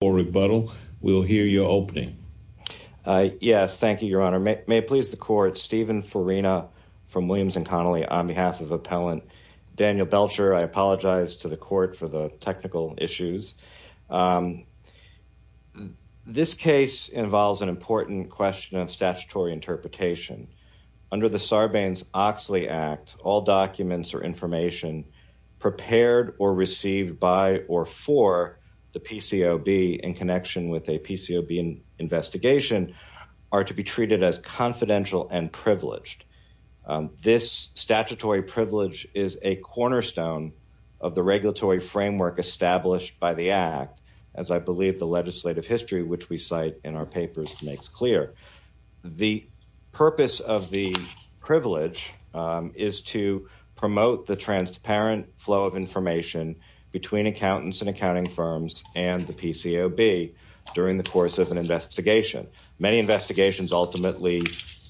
for rebuttal. We'll hear your opening. Yes. Thank you, Your Honor. May it please the court. Stephen Farina from Williams & Connolly on behalf of Appellant Daniel Belcher. I apologize to the court for the technical issues. This case involves an important question of statutory interpretation. Under the Sarbanes-Oxley Act, all documents or information prepared or received by or for the PCOB in connection with a PCOB investigation are to be treated as confidential and privileged. This statutory privilege is a cornerstone of the regulatory framework established by the Act, as I believe the legislative history which we cite in our papers makes clear. The purpose of the privilege is to promote the transparent flow of information between accountants and accounting firms and the PCOB during the course of an investigation. Many investigations ultimately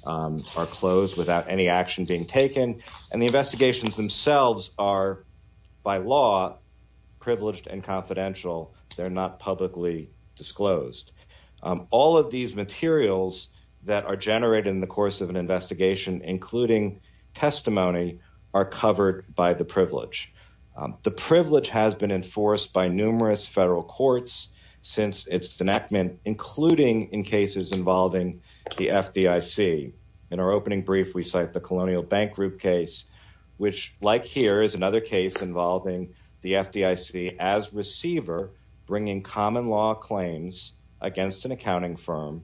are closed without any action being taken and the investigations themselves are by law privileged and confidential. They're not publicly disclosed. All of these materials that are generated in the course of an investigation, including testimony, are covered by the privilege. The privilege has been enforced by numerous federal courts since its enactment, including in cases involving the FDIC. In our opening brief, we cite the Colonial Bank Group case, which like here is another case involving the FDIC as receiver bringing common law claims against an accounting firm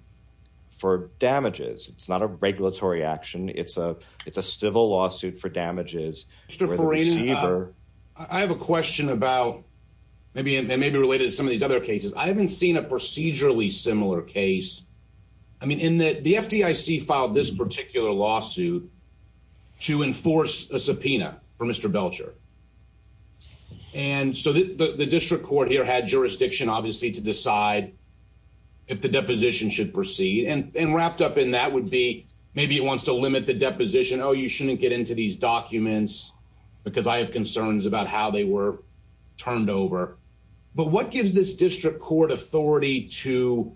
for damages. It's not a regulatory action. It's a it's a civil lawsuit for damages. Mr. Farina, I have a question about maybe and maybe related to some of these other cases. I haven't seen a procedurally similar case. I mean, in that the FDIC filed this particular lawsuit to enforce a subpoena for Mr. Belcher. And so the district court here had jurisdiction obviously to decide if the deposition should proceed and wrapped up in that would be maybe it wants to limit the deposition. Oh, you shouldn't get into these documents because I have concerns about how they were turned over. But what gives this district court authority to,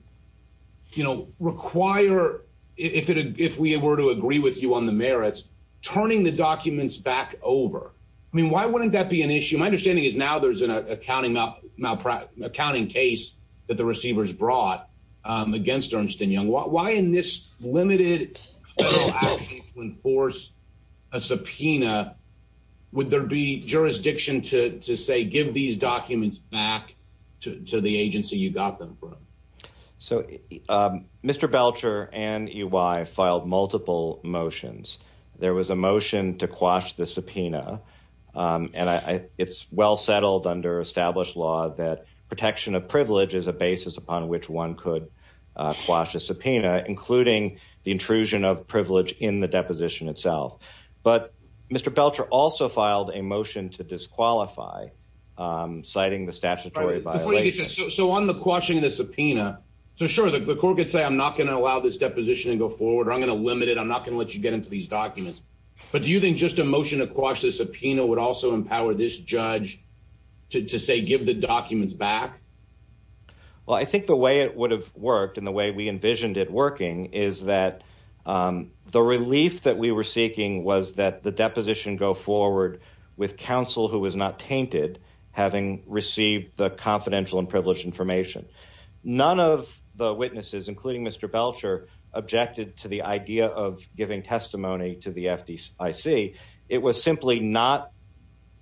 you know, require if it if we were to agree with you on the merits, turning the documents back over? I mean, why wouldn't that be an issue? My understanding is now there's an accounting malpractice accounting case that the receivers brought against Ernst and Young. Why in this limited force a subpoena? Would there be jurisdiction to say give these So, Mr. Belcher and you, I filed multiple motions. There was a motion to quash the subpoena. And it's well settled under established law that protection of privilege is a basis upon which one could quash a subpoena, including the intrusion of privilege in the deposition itself. But Mr. Belcher also filed a motion to disqualify citing the statutory. So on the quashing of the subpoena, so sure, the court could say, I'm not going to allow this deposition and go forward. I'm going to limit it. I'm not going to let you get into these documents. But do you think just a motion to quash the subpoena would also empower this judge to say, give the documents back? Well, I think the way it would have worked and the way we envisioned it working is that the relief that we were seeking was that the deposition go forward with counsel who was not tainted, having received the confidential and privileged information. None of the witnesses, including Mr. Belcher, objected to the idea of giving testimony to the FDIC. It was simply not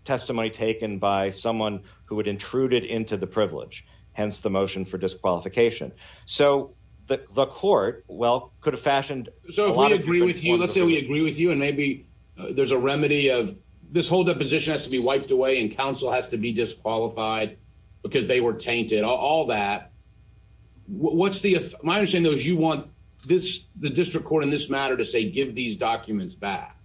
testimony taken by someone who had intruded into the privilege, hence the motion for disqualification. So the court, well, could have fashioned. So if we agree with you, let's say we agree with you. And maybe there's a remedy of this whole deposition has to be wiped away and counsel has to be disqualified because they were tainted, all that. What's the, my understanding is you want this, the district court in this matter to say, give these documents back.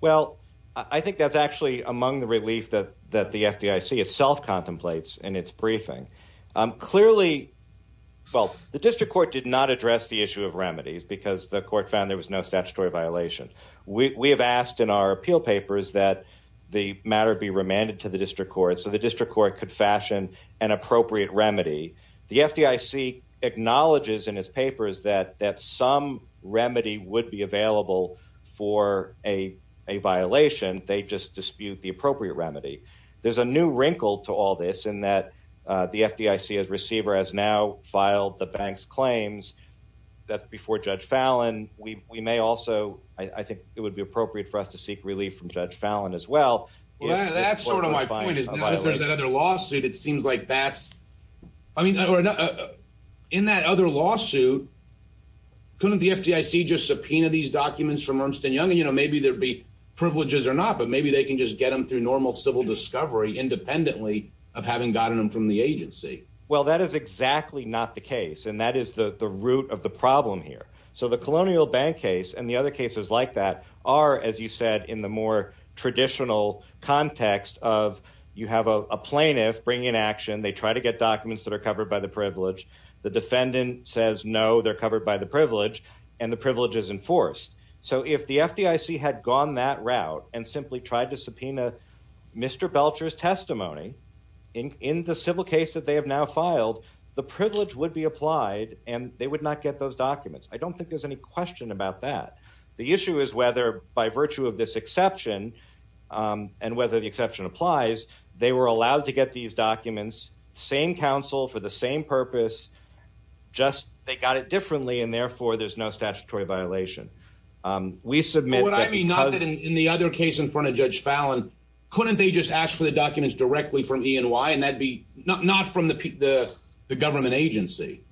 Well, I think that's actually among the relief that that the FDIC itself contemplates in its briefing. Clearly, well, the district court did not address the issue of remedies because the court found there was no statutory violation. We have asked in our appeal papers that the matter be remanded to the district court so the district court could fashion an appropriate remedy. The FDIC acknowledges in its papers that that some remedy would be available for a violation. They just dispute the appropriate remedy. There's a new wrinkle to all this in that the FDIC as receiver has now filed the bank's claims. That's before Judge Fallon. We may also, I think it would be appropriate for us to seek relief from Judge Fallon as well. Well, that's sort of my point is that if there's another lawsuit, it seems like that's, I mean, in that other lawsuit, couldn't the FDIC just subpoena these documents from Ernst & Young? And, you know, maybe there'd be privileges or not, but maybe they can just get them through normal civil discovery independently of having gotten them from the agency. Well, that is exactly not the case. And that is the root of the problem here. So the colonial bank case and the other cases like that are, as you said, in the more traditional context of you have a plaintiff bring in action. They try to get documents that are covered by the privilege. The defendant says, no, they're covered by the privilege and the privilege is enforced. So if the FDIC had gone that route and simply tried to subpoena Mr. Belcher's testimony in the civil case that they have now filed, the privilege would be applied and they would not get those documents. I don't think there's any question about that. The issue is whether by virtue of this exception and whether the exception applies, they were allowed to get these documents, same counsel for the same purpose, just they got it differently and therefore there's no statutory violation. We submit that because... What I mean, not that in the other case in front of Judge Fallon, couldn't they just ask for the documents directly from E&Y and that'd be not from the government agency?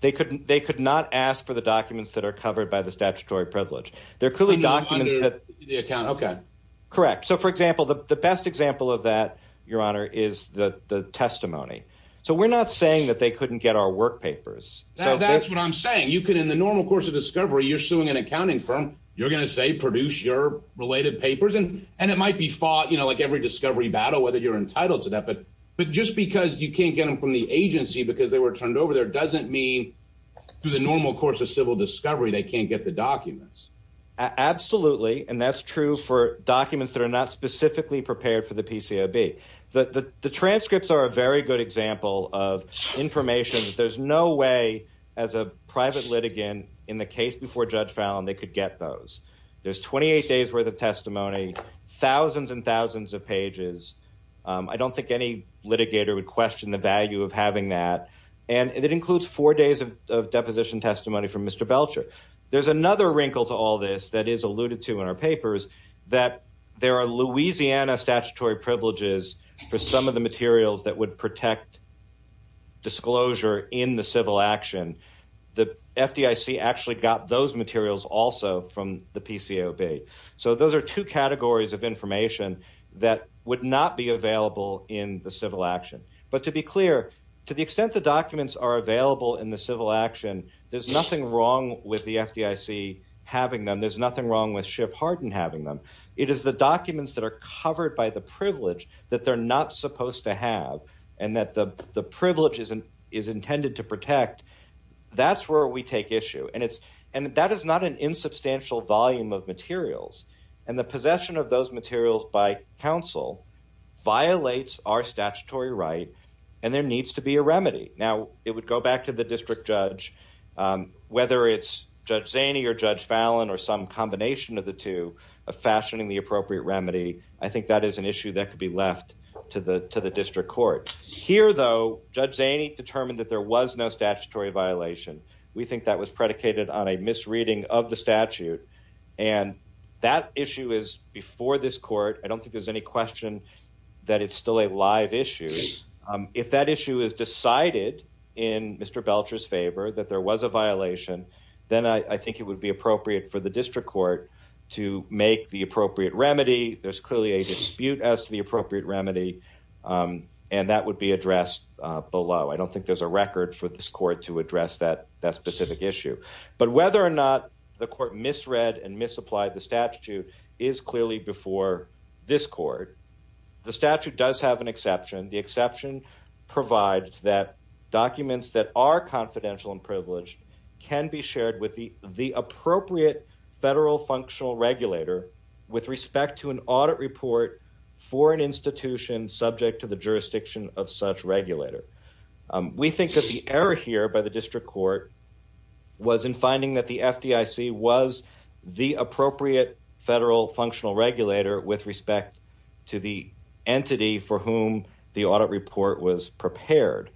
They could not ask for the documents that are covered by the statutory privilege. Under the account, okay. Correct. So for example, the best example of that, Your Honor, is the testimony. So we're not saying that they couldn't get our work papers. That's what I'm saying. You could, in the normal course of discovery, you're suing an accounting firm. You're going to say, produce your related papers. And it might be fought, every discovery battle, whether you're entitled to that. But just because you can't get them from the agency because they were turned over there doesn't mean through the normal course of civil discovery, they can't get the documents. Absolutely. And that's true for documents that are not specifically prepared for the PCOB. The transcripts are a very good example of information that there's no way as a private litigant in the case before Judge Fallon, they could get those. There's 28 days worth of pages. I don't think any litigator would question the value of having that. And it includes four days of deposition testimony from Mr. Belcher. There's another wrinkle to all this that is alluded to in our papers, that there are Louisiana statutory privileges for some of the materials that would protect disclosure in the civil action. The FDIC actually got those materials also from the PCOB. So those are two categories of information that would not be available in the civil action. But to be clear, to the extent the documents are available in the civil action, there's nothing wrong with the FDIC having them. There's nothing wrong with Schiff Hardin having them. It is the documents that are covered by the privilege that they're not supposed to have and that the privilege is intended to protect. That's where we take issue. And that is not an insubstantial volume of materials. And the possession of those materials by counsel violates our statutory right and there needs to be a remedy. Now, it would go back to the district judge, whether it's Judge Zaney or Judge Fallon or some combination of the two of fashioning the appropriate remedy. I think that is an issue that could be left to the district court. Here, though, Judge Zaney determined that there was no violation. We think that was predicated on a misreading of the statute. And that issue is before this court. I don't think there's any question that it's still a live issue. If that issue is decided in Mr. Belcher's favor that there was a violation, then I think it would be appropriate for the district court to make the appropriate remedy. There's clearly a dispute as to the appropriate remedy. And that would be addressed below. I don't think there's a record for this court to address that specific issue. But whether or not the court misread and misapplied the statute is clearly before this court. The statute does have an exception. The exception provides that documents that are confidential and privileged can be shared with the appropriate federal functional regulator with respect to an audit report for an institution subject to the error here by the district court was in finding that the FDIC was the appropriate federal functional regulator with respect to the entity for whom the audit report was prepared.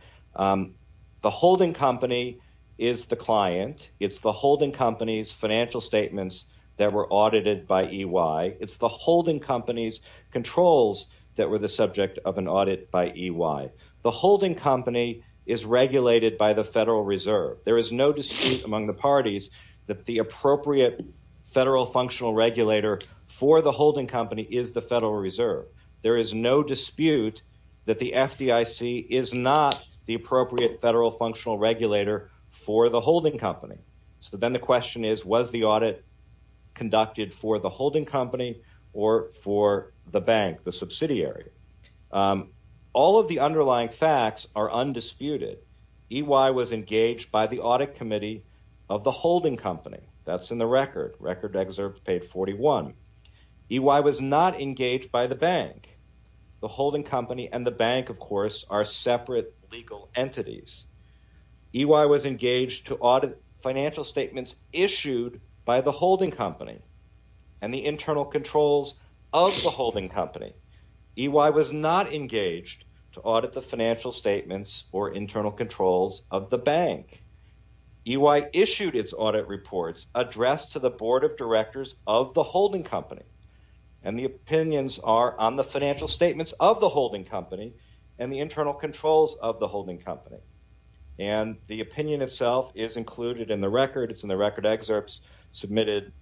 The holding company is the client. It's the holding company's financial statements that were audited by EY. It's the holding company's controls that were the subject of an audit by EY. The holding company is regulated by the Federal Reserve. There is no dispute among the parties that the appropriate federal functional regulator for the holding company is the Federal Reserve. There is no dispute that the FDIC is not the appropriate federal functional regulator for the holding company. So then the question is, was the audit conducted for the holding company or for the bank, the subsidiary? All of the underlying facts are undisputed. EY was engaged by the audit committee of the holding company. That's in the record. Record excerpt page 41. EY was not engaged by the bank. The holding company and the bank, of course, are separate legal entities. EY was engaged to audit financial statements issued by the holding company and the internal controls of the holding company. EY was not engaged to audit the financial statements or internal controls of the bank. EY issued its audit reports addressed to the board of directors of the holding company. And the opinions are on the financial statements of the holding company and the internal controls of the holding company. And the opinion itself is included in the record. It's in the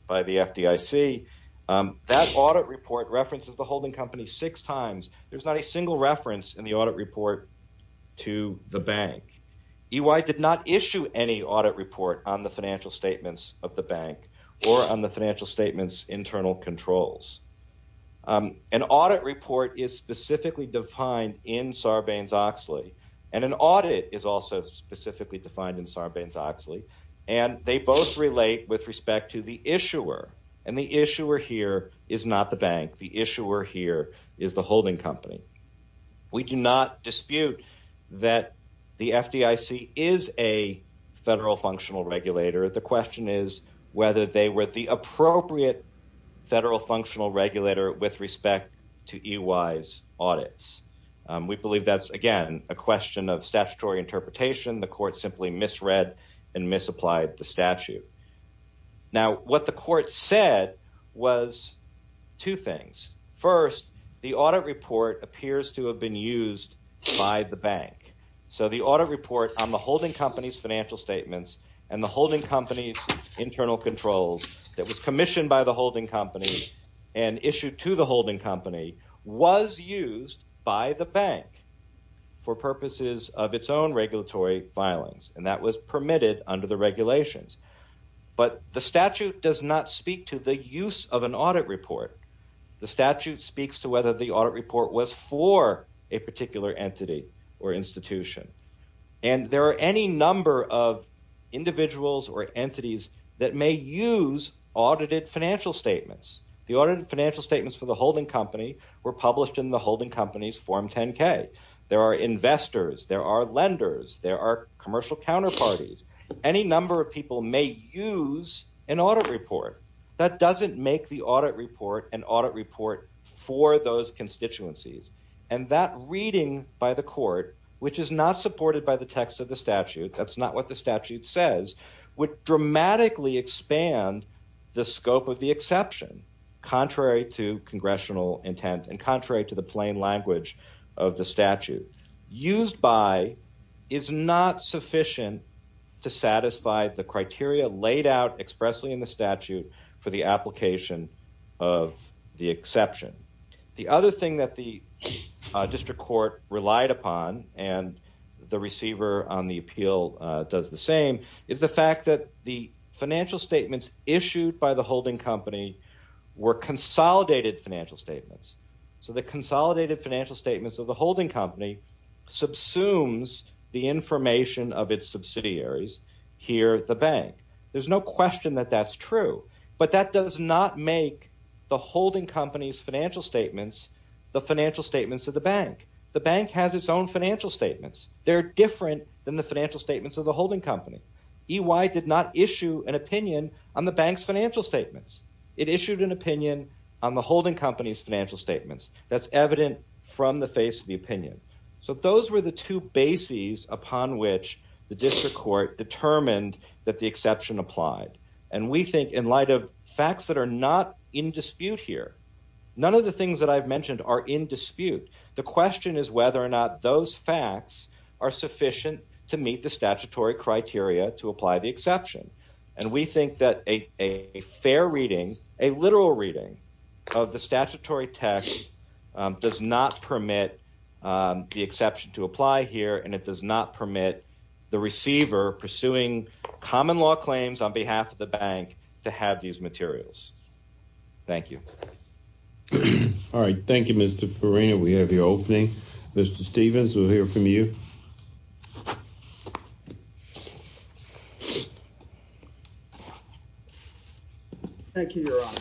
FDIC. That audit report references the holding company six times. There's not a single reference in the audit report to the bank. EY did not issue any audit report on the financial statements of the bank or on the financial statements internal controls. An audit report is specifically defined in Sarbanes-Oxley. And an audit is also specifically defined in Sarbanes-Oxley. And they both relate with respect to the issuer. And the issuer here is not the bank. The issuer here is the holding company. We do not dispute that the FDIC is a federal functional regulator. The question is whether they were the appropriate federal functional regulator with respect to EY's audits. We believe that's, again, a question of statutory interpretation. The court simply misread and misapplied the statute. Now, what the court said was two things. First, the audit report appears to have been used by the bank. So the audit report on the holding company's financial statements and the holding company's internal controls that was commissioned by the holding company and issued to the holding company was used by the bank for purposes of its own regulatory filings. And that was permitted under the regulations. But the statute does not speak to the use of an audit report. The statute speaks to whether the audit report was for a particular entity or institution. And there are any number of individuals or entities that may use audited financial statements. The audited financial statements for the holding company were published in the holding company's Form 10-K. There are investors. There are lenders. There are commercial counterparties. Any number of people may use an audit report. That doesn't make the audit report an audit report for those constituencies. And that reading by the court, which is not supported by the text of the statute, that's not what the statute says, would dramatically expand the scope of the exception, contrary to congressional intent and contrary to the plain language of the statute. Used by is not sufficient to satisfy the criteria laid out expressly in the statute for the application of the exception. The other thing that the district court relied upon, and the receiver on the appeal does the same, is the fact that the financial statements issued by the holding company were consolidated financial statements. So the consolidated financial statements of the holding company subsumes the information of its subsidiaries here at the bank. There's no question that that's true, but that does not make the holding company's financial statements the financial statements of the bank. The bank has its own financial statements. They're different than the financial statements of the holding company. EY did not issue an opinion on the bank's financial statements. It issued an opinion on the holding company's financial statements. That's evident from the face of the opinion. So those were the two bases upon which the district court determined that the exception applied. And we think in light of facts that are not in dispute here, none of the things that I've mentioned are in dispute. The question is whether or not those facts are sufficient to a literal reading of the statutory text does not permit the exception to apply here, and it does not permit the receiver pursuing common law claims on behalf of the bank to have these materials. Thank you. All right. Thank you, Mr. Farina. We have your opening. Mr. Stevens, we'll hear from you. Thank you, Your Honor.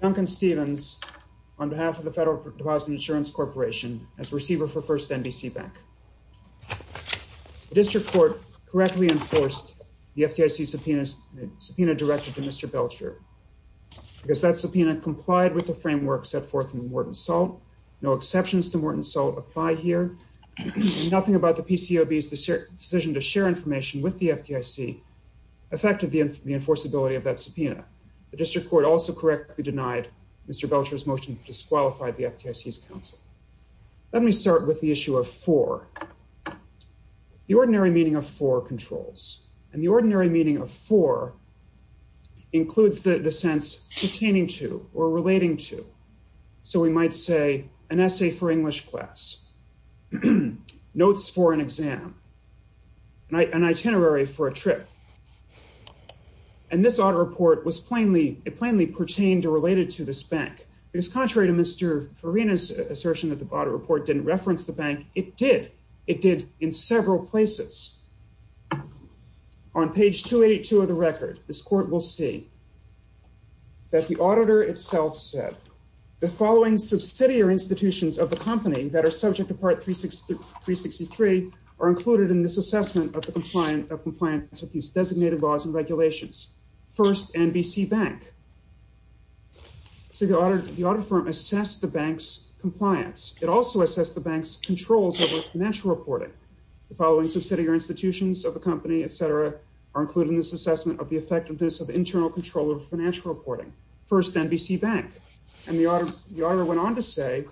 Duncan Stevens on behalf of the Federal Deposit Insurance Corporation as receiver for First NBC Bank. The district court correctly enforced the FDIC subpoena directed to Mr. Belcher because that subpoena complied with the framework set forth in Morton Salt. No exceptions to Morton Salt apply here. Nothing about the PCOB's decision to share information with the FDIC affected the enforceability of that subpoena. The district court also correctly denied Mr. Belcher's motion to disqualify the FDIC's counsel. Let me start with the issue of for. The ordinary meaning of for controls, and the ordinary meaning of for includes the sense pertaining to or relating to. So we might say an essay for English class, notes for an exam, an itinerary for a trip. And this audit report was plainly, it plainly pertained or related to this bank. Because contrary to Mr. Farina's assertion that the audit report didn't reference the bank, it did. It did in several places. On page 282 of the record, this court will see that the auditor itself said, the following subsidiary institutions of the company that are subject to part 363 are included in this assessment of compliance with these designated laws and regulations. First, NBC Bank. So the audit firm assessed the bank's compliance. It also assessed the bank's controls over financial reporting. The following subsidiary institutions of the company, etc., are included in this assessment of the effectiveness of internal control over financial reporting. First, NBC Bank. And the auditor went on to say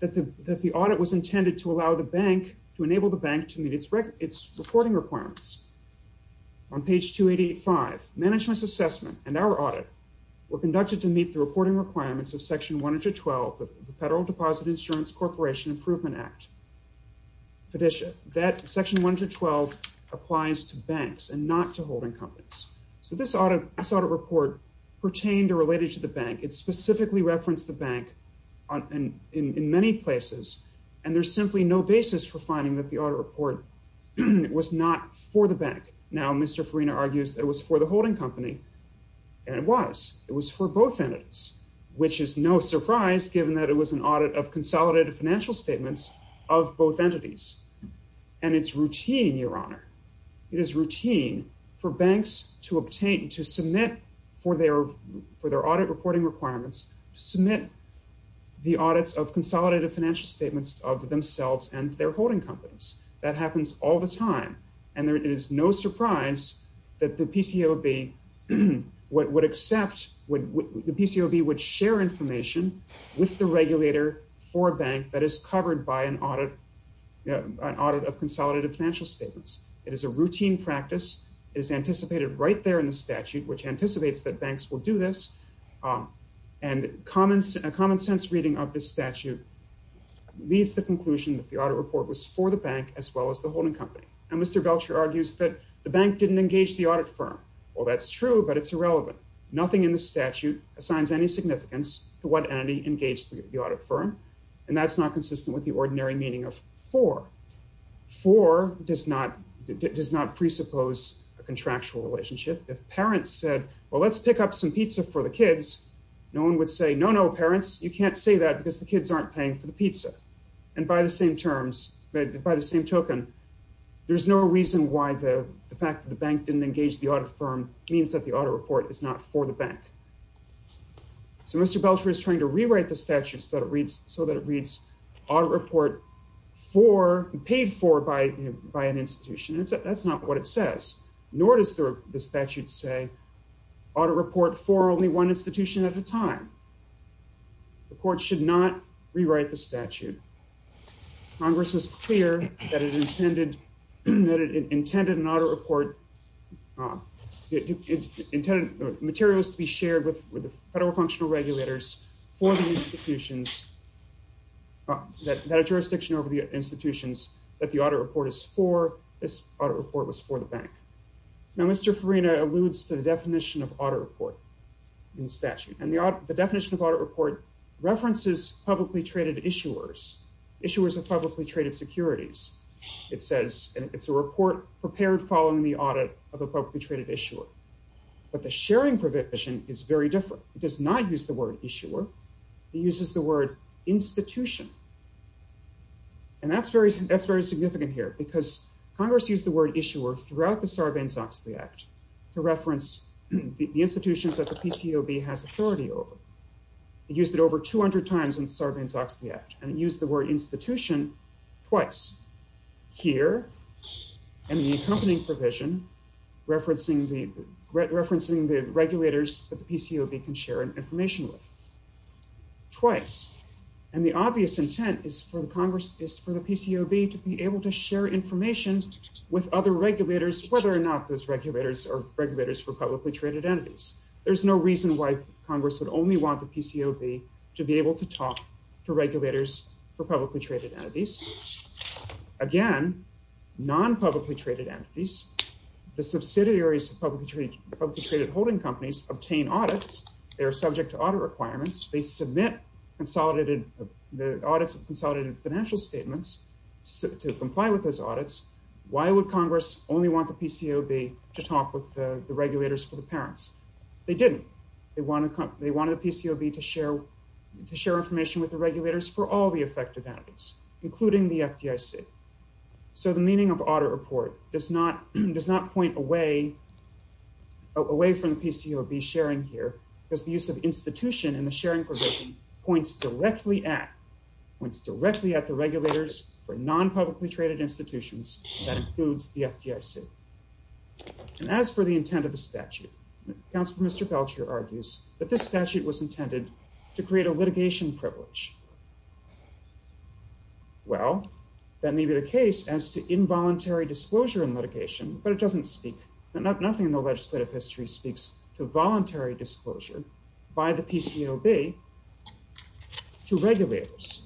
that the audit was intended to allow the bank, to enable the bank to meet its reporting requirements. On page 285, management's assessment and our audit were conducted to meet the reporting requirements of section 112 of the Federal Deposit Insurance Corporation Improvement Act, FDICIA. That section 112 applies to banks and not to holding companies. So this audit report pertained or related to the bank. It specifically referenced the bank in many places. And there's simply no basis for finding that the audit report was not for the bank. Now, Mr. Farina argues that it was for the holding company. And it was. It was for both entities, which is no surprise given that it was an audit of consolidated financial statements of both entities. And it's routine, Your Honor. It is routine for banks to obtain, to submit for their audit reporting requirements, to submit the audits of consolidated financial statements of themselves and their holding companies. That happens all the time. And it is no surprise that the PCOB would accept, the PCOB would share information with the regulator for a bank that is covered by an audit, an audit of consolidated financial statements. It is a routine practice. It is anticipated right there in the statute, which anticipates that banks will do this. And a common sense reading of this statute leads to the conclusion that the audit report was for the bank as well as the holding company. And Mr. Belcher argues that the bank didn't engage the audit firm. Well, that's true, but it's irrelevant. Nothing in the statute assigns any significance to what entity engaged the audit firm. And that's not consistent with the ordinary meaning of for. For does not presuppose a contractual relationship. If parents said, well, let's pick up some pizza for the kids, no one would say, no, no, parents, you can't say that because the kids aren't paying for the pizza. And by the same terms, by the same token, there's no reason why the fact that the bank didn't engage the audit firm means that the audit report is not for the bank. So Mr. Belcher is trying to rewrite the statutes that it reads so that it reads audit report for paid for by, by an institution. That's not what it says, nor does the statute say audit report for only one institution at a time. The court should not rewrite the statute. Congress was clear that it intended that it intended materials to be shared with the federal functional regulators for the institutions that jurisdiction over the institutions that the audit report is for this audit report was for the bank. Now, Mr. Farina alludes to the definition of audit report in statute and the definition of audit report references publicly traded issuers, issuers of publicly traded securities. It says, and it's a report prepared following the audit of a publicly traded issuer, but the sharing provision is very different. It does not use the word issuer. He uses the word institution. And that's very, that's very significant here because Congress used the word issuer throughout the Sarbanes-Oxley act to reference the institutions that the PCOB has authority over. It used it over 200 times in Sarbanes-Oxley act and it used the word institution twice here and the accompanying provision referencing the, referencing the regulators that the PCOB can share information with twice. And the obvious intent is for the Congress is for the PCOB to be able to share information with other regulators, whether or not those regulators are regulators for publicly traded entities. There's no reason why Congress would only want the PCOB to be able to talk to regulators for publicly traded entities. Again, non-publicly traded entities, the subsidiaries of publicly traded holding companies obtain audits. They are subject to audit requirements. They submit consolidated, the audits of consolidated financial statements to comply with those audits. Why would Congress only want the PCOB to talk with the to share, to share information with the regulators for all the affected entities, including the FDIC? So the meaning of audit report does not, does not point away, away from the PCOB sharing here because the use of institution and the sharing provision points directly at, points directly at the regulators for non-publicly traded institutions that includes the FDIC. And as for the intent of the statute, counselor, Mr. Belcher argues that this statute was intended to create a litigation privilege. Well, that may be the case as to involuntary disclosure in litigation, but it doesn't speak that not nothing in the legislative history speaks to voluntary disclosure by the PCOB to regulators.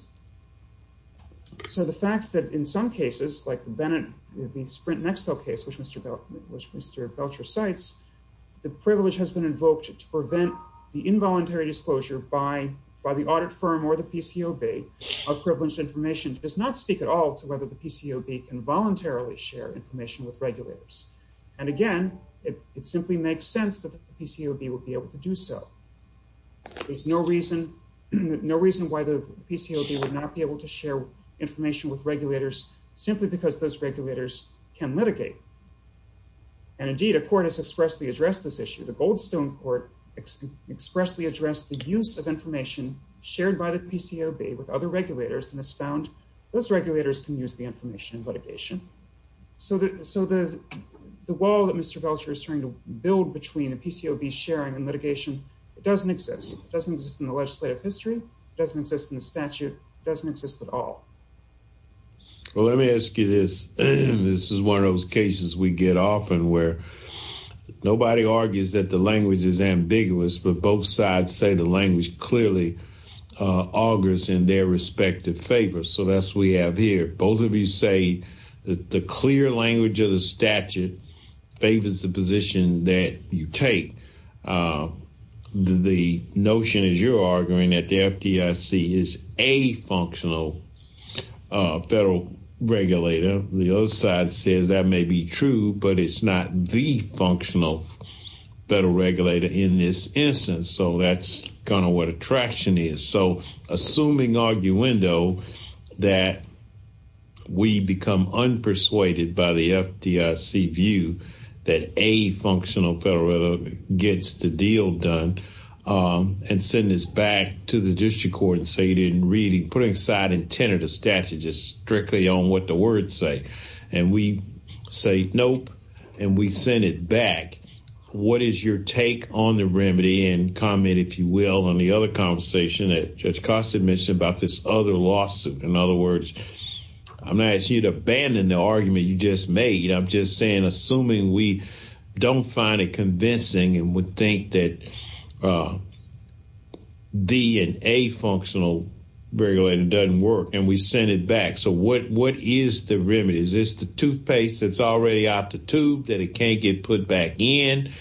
So the fact that in some cases like the Bennett, the Sprint Nextel case, which Mr. Belcher cites, the privilege has been invoked to prevent the involuntary disclosure by, by the audit firm or the PCOB of privileged information does not speak at all to whether the PCOB can voluntarily share information with regulators. And again, it simply makes sense that the PCOB would be able to do so. There's no reason, no reason why the PCOB would not be able to share information with regulators simply because those regulators can litigate. And indeed, a court has expressly addressed this issue. The Goldstone Court expressly addressed the use of information shared by the PCOB with other regulators and has found those regulators can use the information in litigation. So the, so the, the wall that Mr. Belcher is trying to build between the PCOB sharing and litigation, it doesn't exist. It doesn't exist in the legislative history. It doesn't exist in the statute. It doesn't exist at all. Well, let me ask you this. This is one of those cases we get often where nobody argues that the language is ambiguous, but both sides say the language clearly augurs in their respective favor. So that's, we have here, both of you say that the clear language of the statute favors the position that you take. The, the notion is you're arguing that the FDIC is a functional federal regulator. The other side says that may be true, but it's not the functional federal regulator in this instance. So that's kind of what attraction is. So assuming arguendo that we become unpersuaded by the FDIC view that a functional federal gets the deal done and send this back to the district court and say you didn't read it, putting aside intent of the statute, just strictly on what the words say. And we say, nope. And we send it back. What is your take on the remedy and comment, if you will, on the other conversation that Judge Costa mentioned about this other lawsuit? In other words, I'm not asking you to would think that the functional regulator doesn't work and we send it back. So what, what is the remedy? Is this the toothpaste that's already out the tube that it can't get put back in?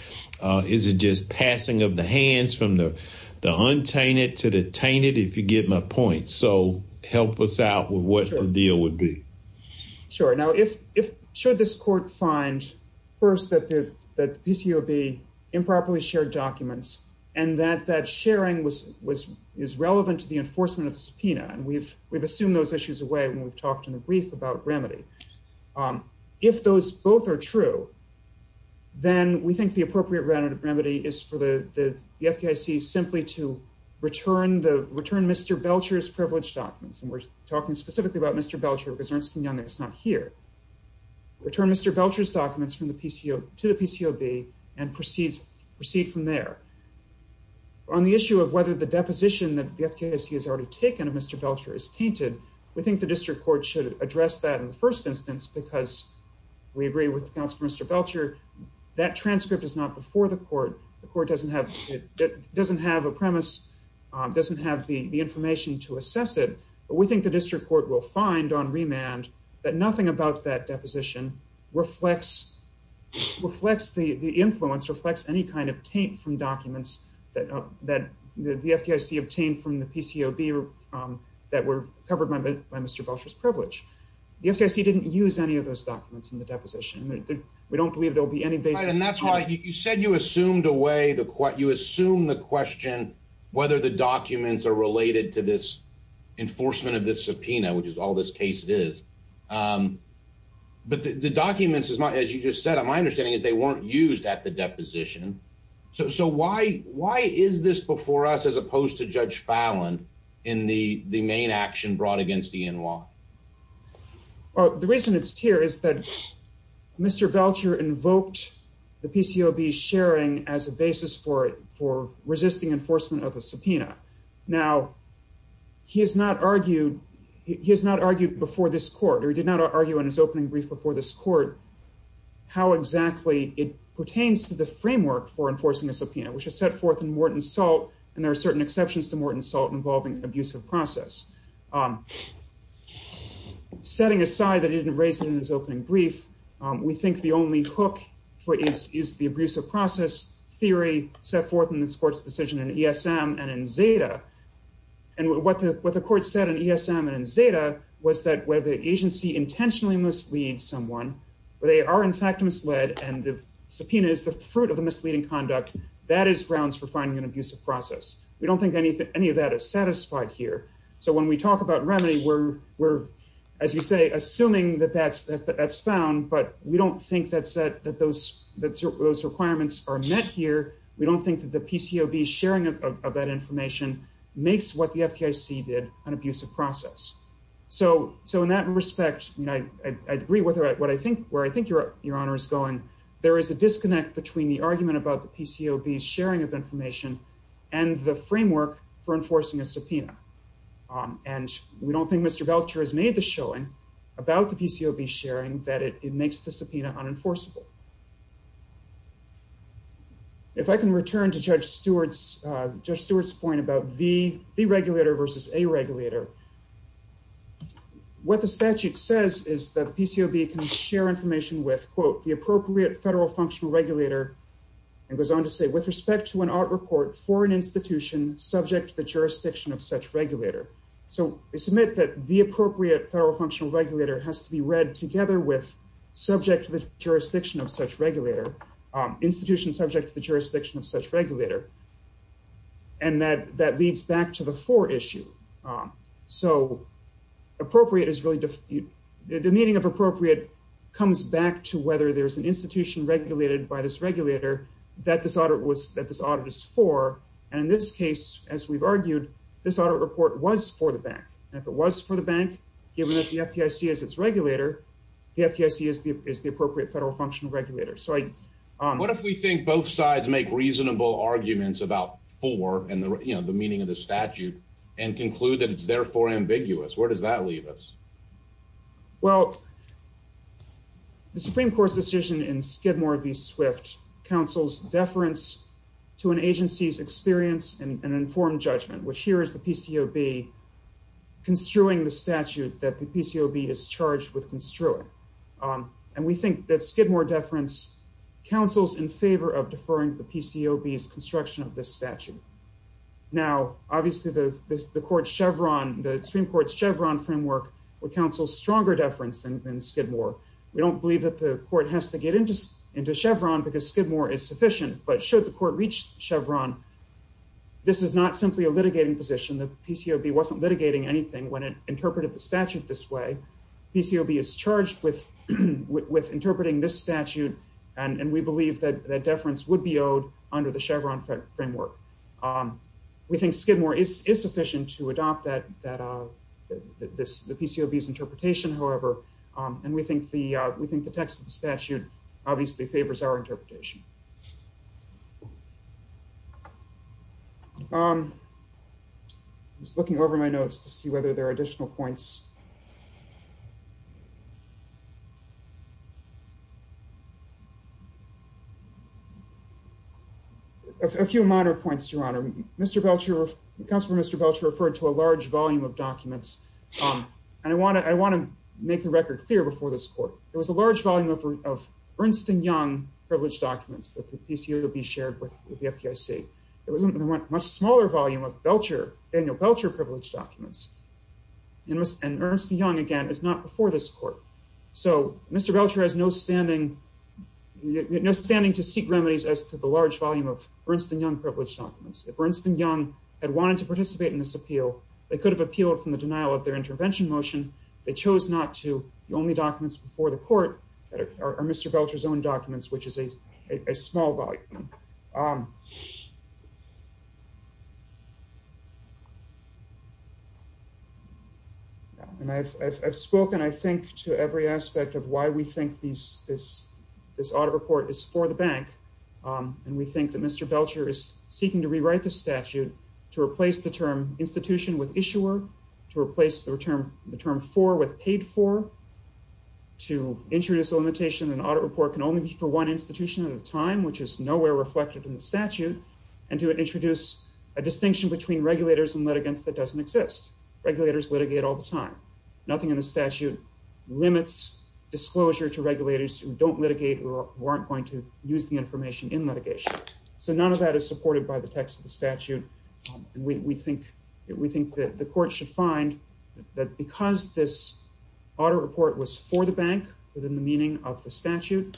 Is it just passing of the hands from the, the untainted to the tainted, if you get my point. So help us out with what the deal would be. Sure. Now, if, if, should this court find first that the PCOB improperly shared documents and that that sharing was, was, is relevant to the enforcement of the subpoena. And we've, we've assumed those issues away when we've talked in the brief about remedy. If those both are true, then we think the appropriate remedy is for the, the FDIC simply to return the, return Mr. Belcher's privilege documents. And we're talking specifically about Mr. Belcher because Ernst & Young is not here. Return Mr. Belcher's documents from the PCO to the PCOB and proceeds proceed from there on the issue of whether the deposition that the FDIC has already taken of Mr. Belcher is tainted. We think the district court should address that in the first instance, because we agree with the counselor, Mr. Belcher, that transcript is not before the court. The court doesn't have, it doesn't have a premise. It doesn't have the information to assess it, but we think the district court will find on remand that nothing about that deposition reflects, reflects the influence, reflects any kind of taint from documents that, that the FDIC obtained from the PCOB that were covered by Mr. Belcher's privilege. The FDIC didn't use any of those documents in the deposition. We don't believe there'll be any basis. And that's why you said you assumed away the question, you assume the question, whether the documents are related to this enforcement of this subpoena, which is all this case is. But the documents is not, as you just said, my understanding is they weren't used at the deposition. So, so why, why is this before us as opposed to Judge Fallon in the, the main action brought against ENY? Well, the reason it's here is that Mr. Belcher invoked the PCOB sharing as a basis for, for resisting enforcement of a subpoena. Now he has not argued, he has not argued before this court, or he did not argue in his opening brief before this court, how exactly it pertains to the framework for enforcing a subpoena, which is set forth in Morton Salt. And there are certain exceptions to Morton Salt involving abusive process. Setting aside that he didn't raise it in his opening brief, we think the only hook is the abusive process theory set forth in this court's decision in ESM and in Zeta. And what the, what the court said in ESM and in Zeta was that where the agency intentionally misleads someone, where they are in fact misled and the subpoena is the fruit of the misleading conduct, that is grounds for finding an abusive process. We don't think any, any of that is satisfied here. So when we talk about remedy, we're, we're, as you say, assuming that that's, that's found, but we don't think that's that, that those, that those requirements are met here. We don't think that the PCOB sharing of that information makes what the FTIC did an abusive process. So, so in that respect, I mean, I, I agree with what I think, where I think your, your honor is going. There is a disconnect between the argument about the PCOB sharing of information and the framework for enforcing a subpoena. Um, and we don't think Mr. Belcher has made the showing about the PCOB sharing that it makes the subpoena unenforceable. If I can return to judge Stewart's, uh, just Stewart's point about the, the regulator versus a regulator, what the statute says is that the PCOB can share information with the appropriate federal functional regulator and goes on to say with respect to an art report for an institution subject to the jurisdiction of such regulator. So they submit that the appropriate federal functional regulator has to be read together with subject to the jurisdiction of such regulator, um, institution subject to the jurisdiction of such regulator. And that, that leads back to the for issue. Um, so appropriate is really the meaning of whether there's an institution regulated by this regulator that this audit was that this audit is for. And in this case, as we've argued, this audit report was for the bank. And if it was for the bank, given that the FTC is its regulator, the FTC is the, is the appropriate federal functional regulator. So I, um, what if we think both sides make reasonable arguments about for, and the, you know, the meaning of the statute and conclude that it's therefore ambiguous, where does that leave us? Well, the Supreme Court's decision in Skidmore v. Swift counsels deference to an agency's experience and informed judgment, which here is the PCOB construing the statute that the PCOB is charged with construing. Um, and we think that Skidmore deference counsels in favor of deferring the PCOB's construction of this statute. Now, obviously the, the court Chevron, the Supreme Council's stronger deference than Skidmore. We don't believe that the court has to get into, into Chevron because Skidmore is sufficient, but should the court reach Chevron, this is not simply a litigating position. The PCOB wasn't litigating anything when it interpreted the statute this way. PCOB is charged with, with interpreting this statute. And we believe that that deference would be owed under the Chevron framework. Um, we think Skidmore is, is sufficient to adopt that, that, uh, this, the PCOB's interpretation, however, um, and we think the, uh, we think the text of the statute obviously favors our interpretation. Um, I was looking over my notes to see whether there are additional points. A few minor points, Your Honor. Mr. Belcher, Counselor Mr. Belcher referred to a large volume of documents. Um, and I want to, I want to make the record clear before this court. There was a large volume of, of Ernst and Young privileged documents that the PCOB shared with the FDIC. There was a much smaller volume of Belcher, Daniel Belcher privileged documents and Ernst and Young again is not before this court. So Mr. Belcher has no standing, no standing to seek remedies as to the large volume of Ernst and Young privileged documents. If Ernst and Young had wanted to participate in this appeal, they could have appealed from the denial of their intervention motion. They chose not to. The only documents before the court are Mr. Belcher's own documents, which is a small volume. And I've spoken, I think to every aspect of why we think these, this, this audit report is for the bank. Um, and we think that Mr. Belcher is seeking to rewrite the statute to replace the term institution with issuer to replace the term, the term for with paid for to introduce a limitation and audit report can only be for one institution at a time, which is nowhere reflected in the statute and to introduce a distinction between regulators and litigants that doesn't exist. Regulators litigate all the time. Nothing in the statute limits disclosure to regulators who don't litigate or weren't going to use the information in litigation. So none of that is supported by the text of the statute. We think we think that the court should find that because this audit report was for the bank within the meaning of the statute,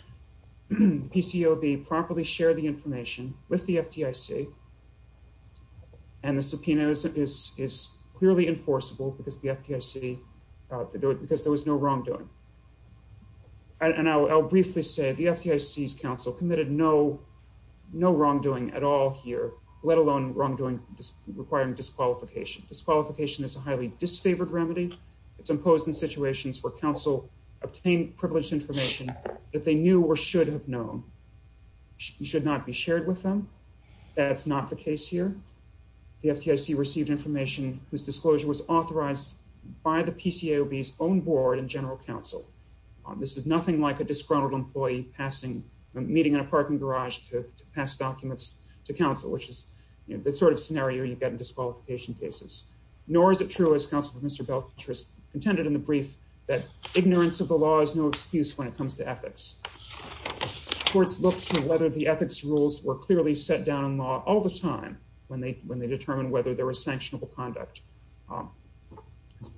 PCOB properly share the information with the FDIC and the subpoenas is, is clearly enforceable because the FDIC, uh, because there was no wrongdoing. And I'll, I'll briefly say the FDIC's counsel committed no, no wrongdoing at all here, let alone wrongdoing requiring disqualification. Disqualification is a highly disfavored remedy. It's imposed in situations where counsel obtained privileged information that they knew or should have known should not be shared with them. That's not the case here. The FDIC received information whose disclosure was authorized by the PCOB's own board and general counsel. This is nothing like a disgruntled employee passing a meeting in a parking garage to pass documents to counsel, you know, the sort of scenario you get in disqualification cases. Nor is it true as counsel Mr. Belcher has contended in the brief that ignorance of the law is no excuse when it comes to ethics. Courts look to whether the ethics rules were clearly set down in law all the time when they, when they determine whether there was sanctionable conduct.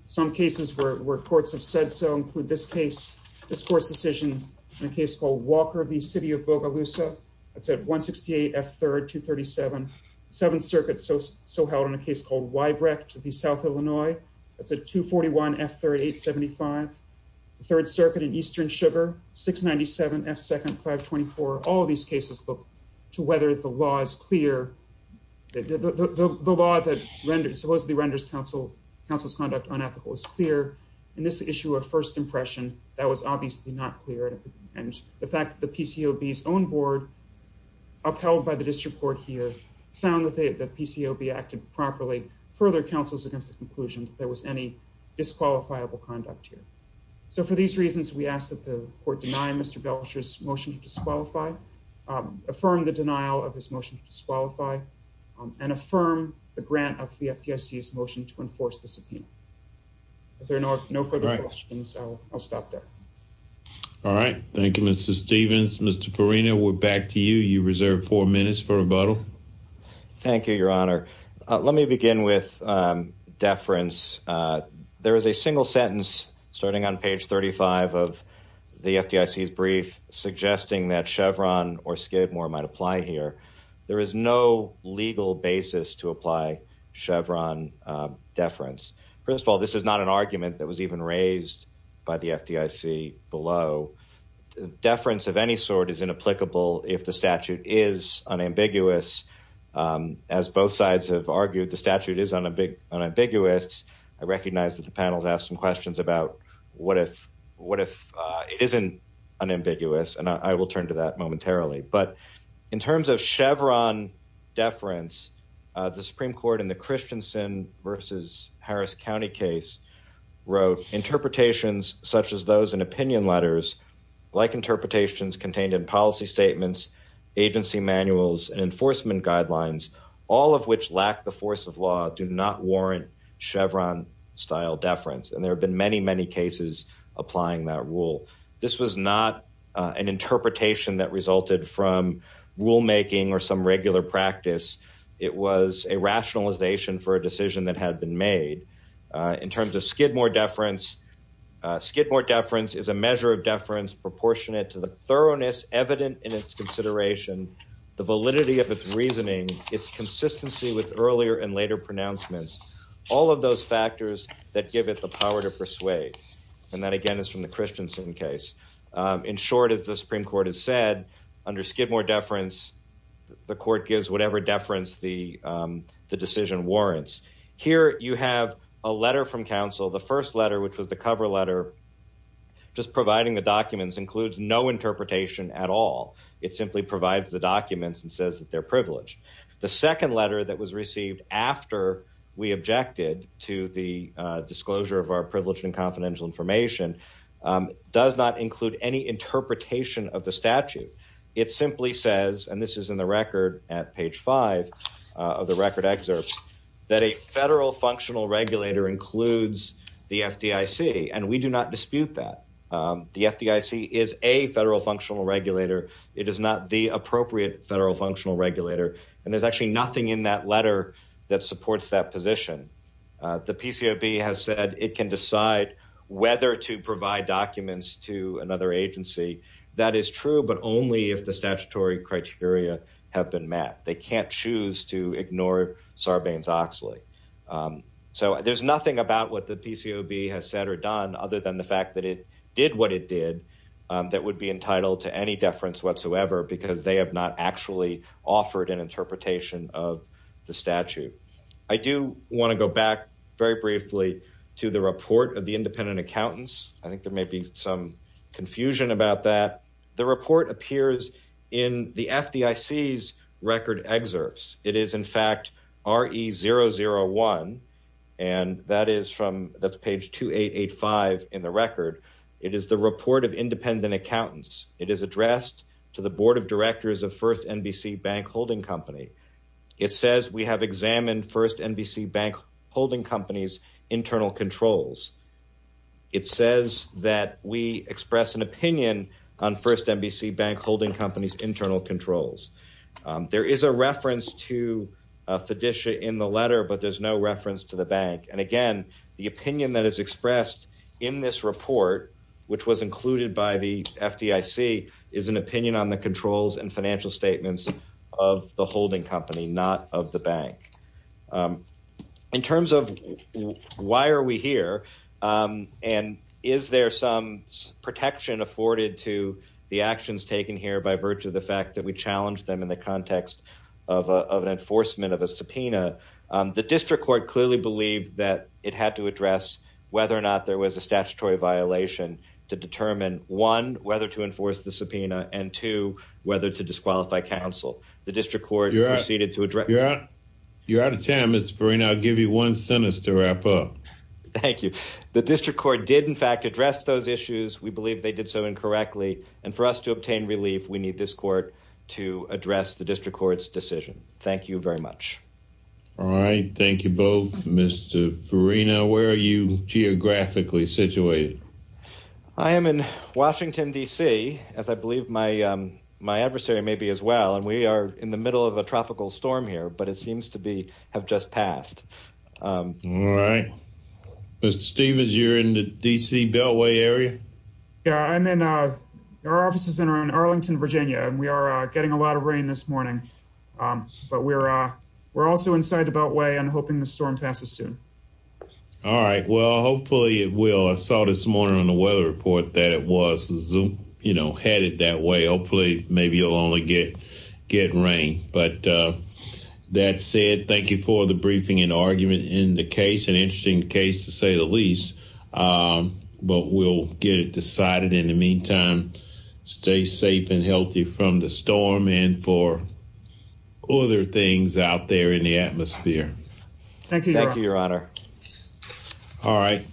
Some cases where courts have said so include this case, this court's decision in a case called Walker v. City of Bogalusa. That's at 168 F3rd, 237. The 7th Circuit so held on a case called Weibrecht v. South Illinois. That's at 241 F3rd, 875. The 3rd Circuit in Eastern Sugar, 697 F2nd, 524. All of these cases look to whether the law is clear. The law that supposedly renders counsel's conduct unethical is clear. In this issue of first impression, that was obviously not clear. And the fact that the PCOB's own board, upheld by the district court here, found that the PCOB acted properly further counsels against the conclusion that there was any disqualifiable conduct here. So for these reasons, we ask that the court deny Mr. Belcher's motion to disqualify, affirm the denial of his motion to disqualify, and affirm the grant of the FDIC's motion to disqualify. Thank you, Mr. Stevens. Mr. Farina, we're back to you. You reserve four minutes for rebuttal. Thank you, Your Honor. Let me begin with deference. There is a single sentence, starting on page 35 of the FDIC's brief, suggesting that Chevron or Skidmore might apply here. There is no legal basis to apply Chevron deference. First of all, this is not an argument that was even raised by the FDIC below. Deference of any sort is inapplicable if the statute is unambiguous. As both sides have argued, the statute is unambiguous. I recognize that the panel's asked some questions about what if it isn't unambiguous, and I will turn to that momentarily. But in terms of Chevron deference, the Supreme Court in the Christensen versus Harris County case wrote, interpretations such as those in opinion letters, like interpretations contained in policy statements, agency manuals, and enforcement guidelines, all of which lack the force of law, do not warrant Chevron-style deference. And there have been many, many cases applying that rule. This was not an interpretation that resulted from rulemaking or some regular practice. It was a in terms of Skidmore deference. Skidmore deference is a measure of deference proportionate to the thoroughness evident in its consideration, the validity of its reasoning, its consistency with earlier and later pronouncements, all of those factors that give it the power to persuade. And that again is from the Christensen case. In short, as the Supreme Court has said, under Skidmore deference, the court gives whatever deference the decision warrants. Here you have a letter from counsel. The first letter, which was the cover letter, just providing the documents includes no interpretation at all. It simply provides the documents and says that they're privileged. The second letter that was received after we objected to the disclosure of our privileged and confidential information does not include any interpretation of the statute. It simply says, and this is in the record at page five of the record excerpt, that a federal functional regulator includes the FDIC. And we do not dispute that. The FDIC is a federal functional regulator. It is not the appropriate federal functional regulator. And there's actually nothing in that letter that supports that position. The PCOB has said it can decide whether to provide documents to another agency. That is true, but only if the statutory criteria have been met. They can't choose to ignore Sarbanes-Oxley. So there's nothing about what the PCOB has said or done other than the fact that it did what it did that would be entitled to any deference whatsoever, because they have not actually offered an interpretation of the statute. I do want to go back very briefly to the report of independent accountants. I think there may be some confusion about that. The report appears in the FDIC's record excerpts. It is, in fact, RE001, and that's page 2885 in the record. It is the report of independent accountants. It is addressed to the board of directors of First NBC Bank Holding Company. It says, we have examined First NBC Bank Holding Company's controls. It says that we express an opinion on First NBC Bank Holding Company's internal controls. There is a reference to fiduciary in the letter, but there's no reference to the bank. And again, the opinion that is expressed in this report, which was included by the FDIC, is an opinion on the controls and financial statements of the holding company, not of the bank. In terms of why are we here, and is there some protection afforded to the actions taken here by virtue of the fact that we challenged them in the context of an enforcement of a subpoena, the district court clearly believed that it had to address whether or not there was a statutory violation to determine, one, whether to enforce the subpoena, and two, whether to disqualify counsel. The district court proceeded to address... You're out of time, Mr. Farina. I'll give you one sentence to wrap up. Thank you. The district court did, in fact, address those issues. We believe they did so incorrectly. And for us to obtain relief, we need this court to address the district court's decision. Thank you very much. All right. Thank you both. Mr. Farina, where are you geographically situated? I am in Washington, D.C., as I believe my adversary may be as well, and we are in the middle of a tropical storm here, but it seems to have just passed. All right. Mr. Stevens, you're in the D.C. Beltway area? Yeah, I'm in our offices in Arlington, Virginia, and we are getting a lot of rain this morning, but we're also inside the Beltway and hoping the storm passes soon. All right. Well, hopefully it will. I saw this morning on the weather report that it was, you know, headed that way. Hopefully, maybe it'll only get rain, but that said, thank you for the briefing and argument in the case. An interesting case, to say the least, but we'll get it decided. In the meantime, stay safe and healthy from the storm and for other things out there in the atmosphere. Thank you. Thank you, Your Honor. All right.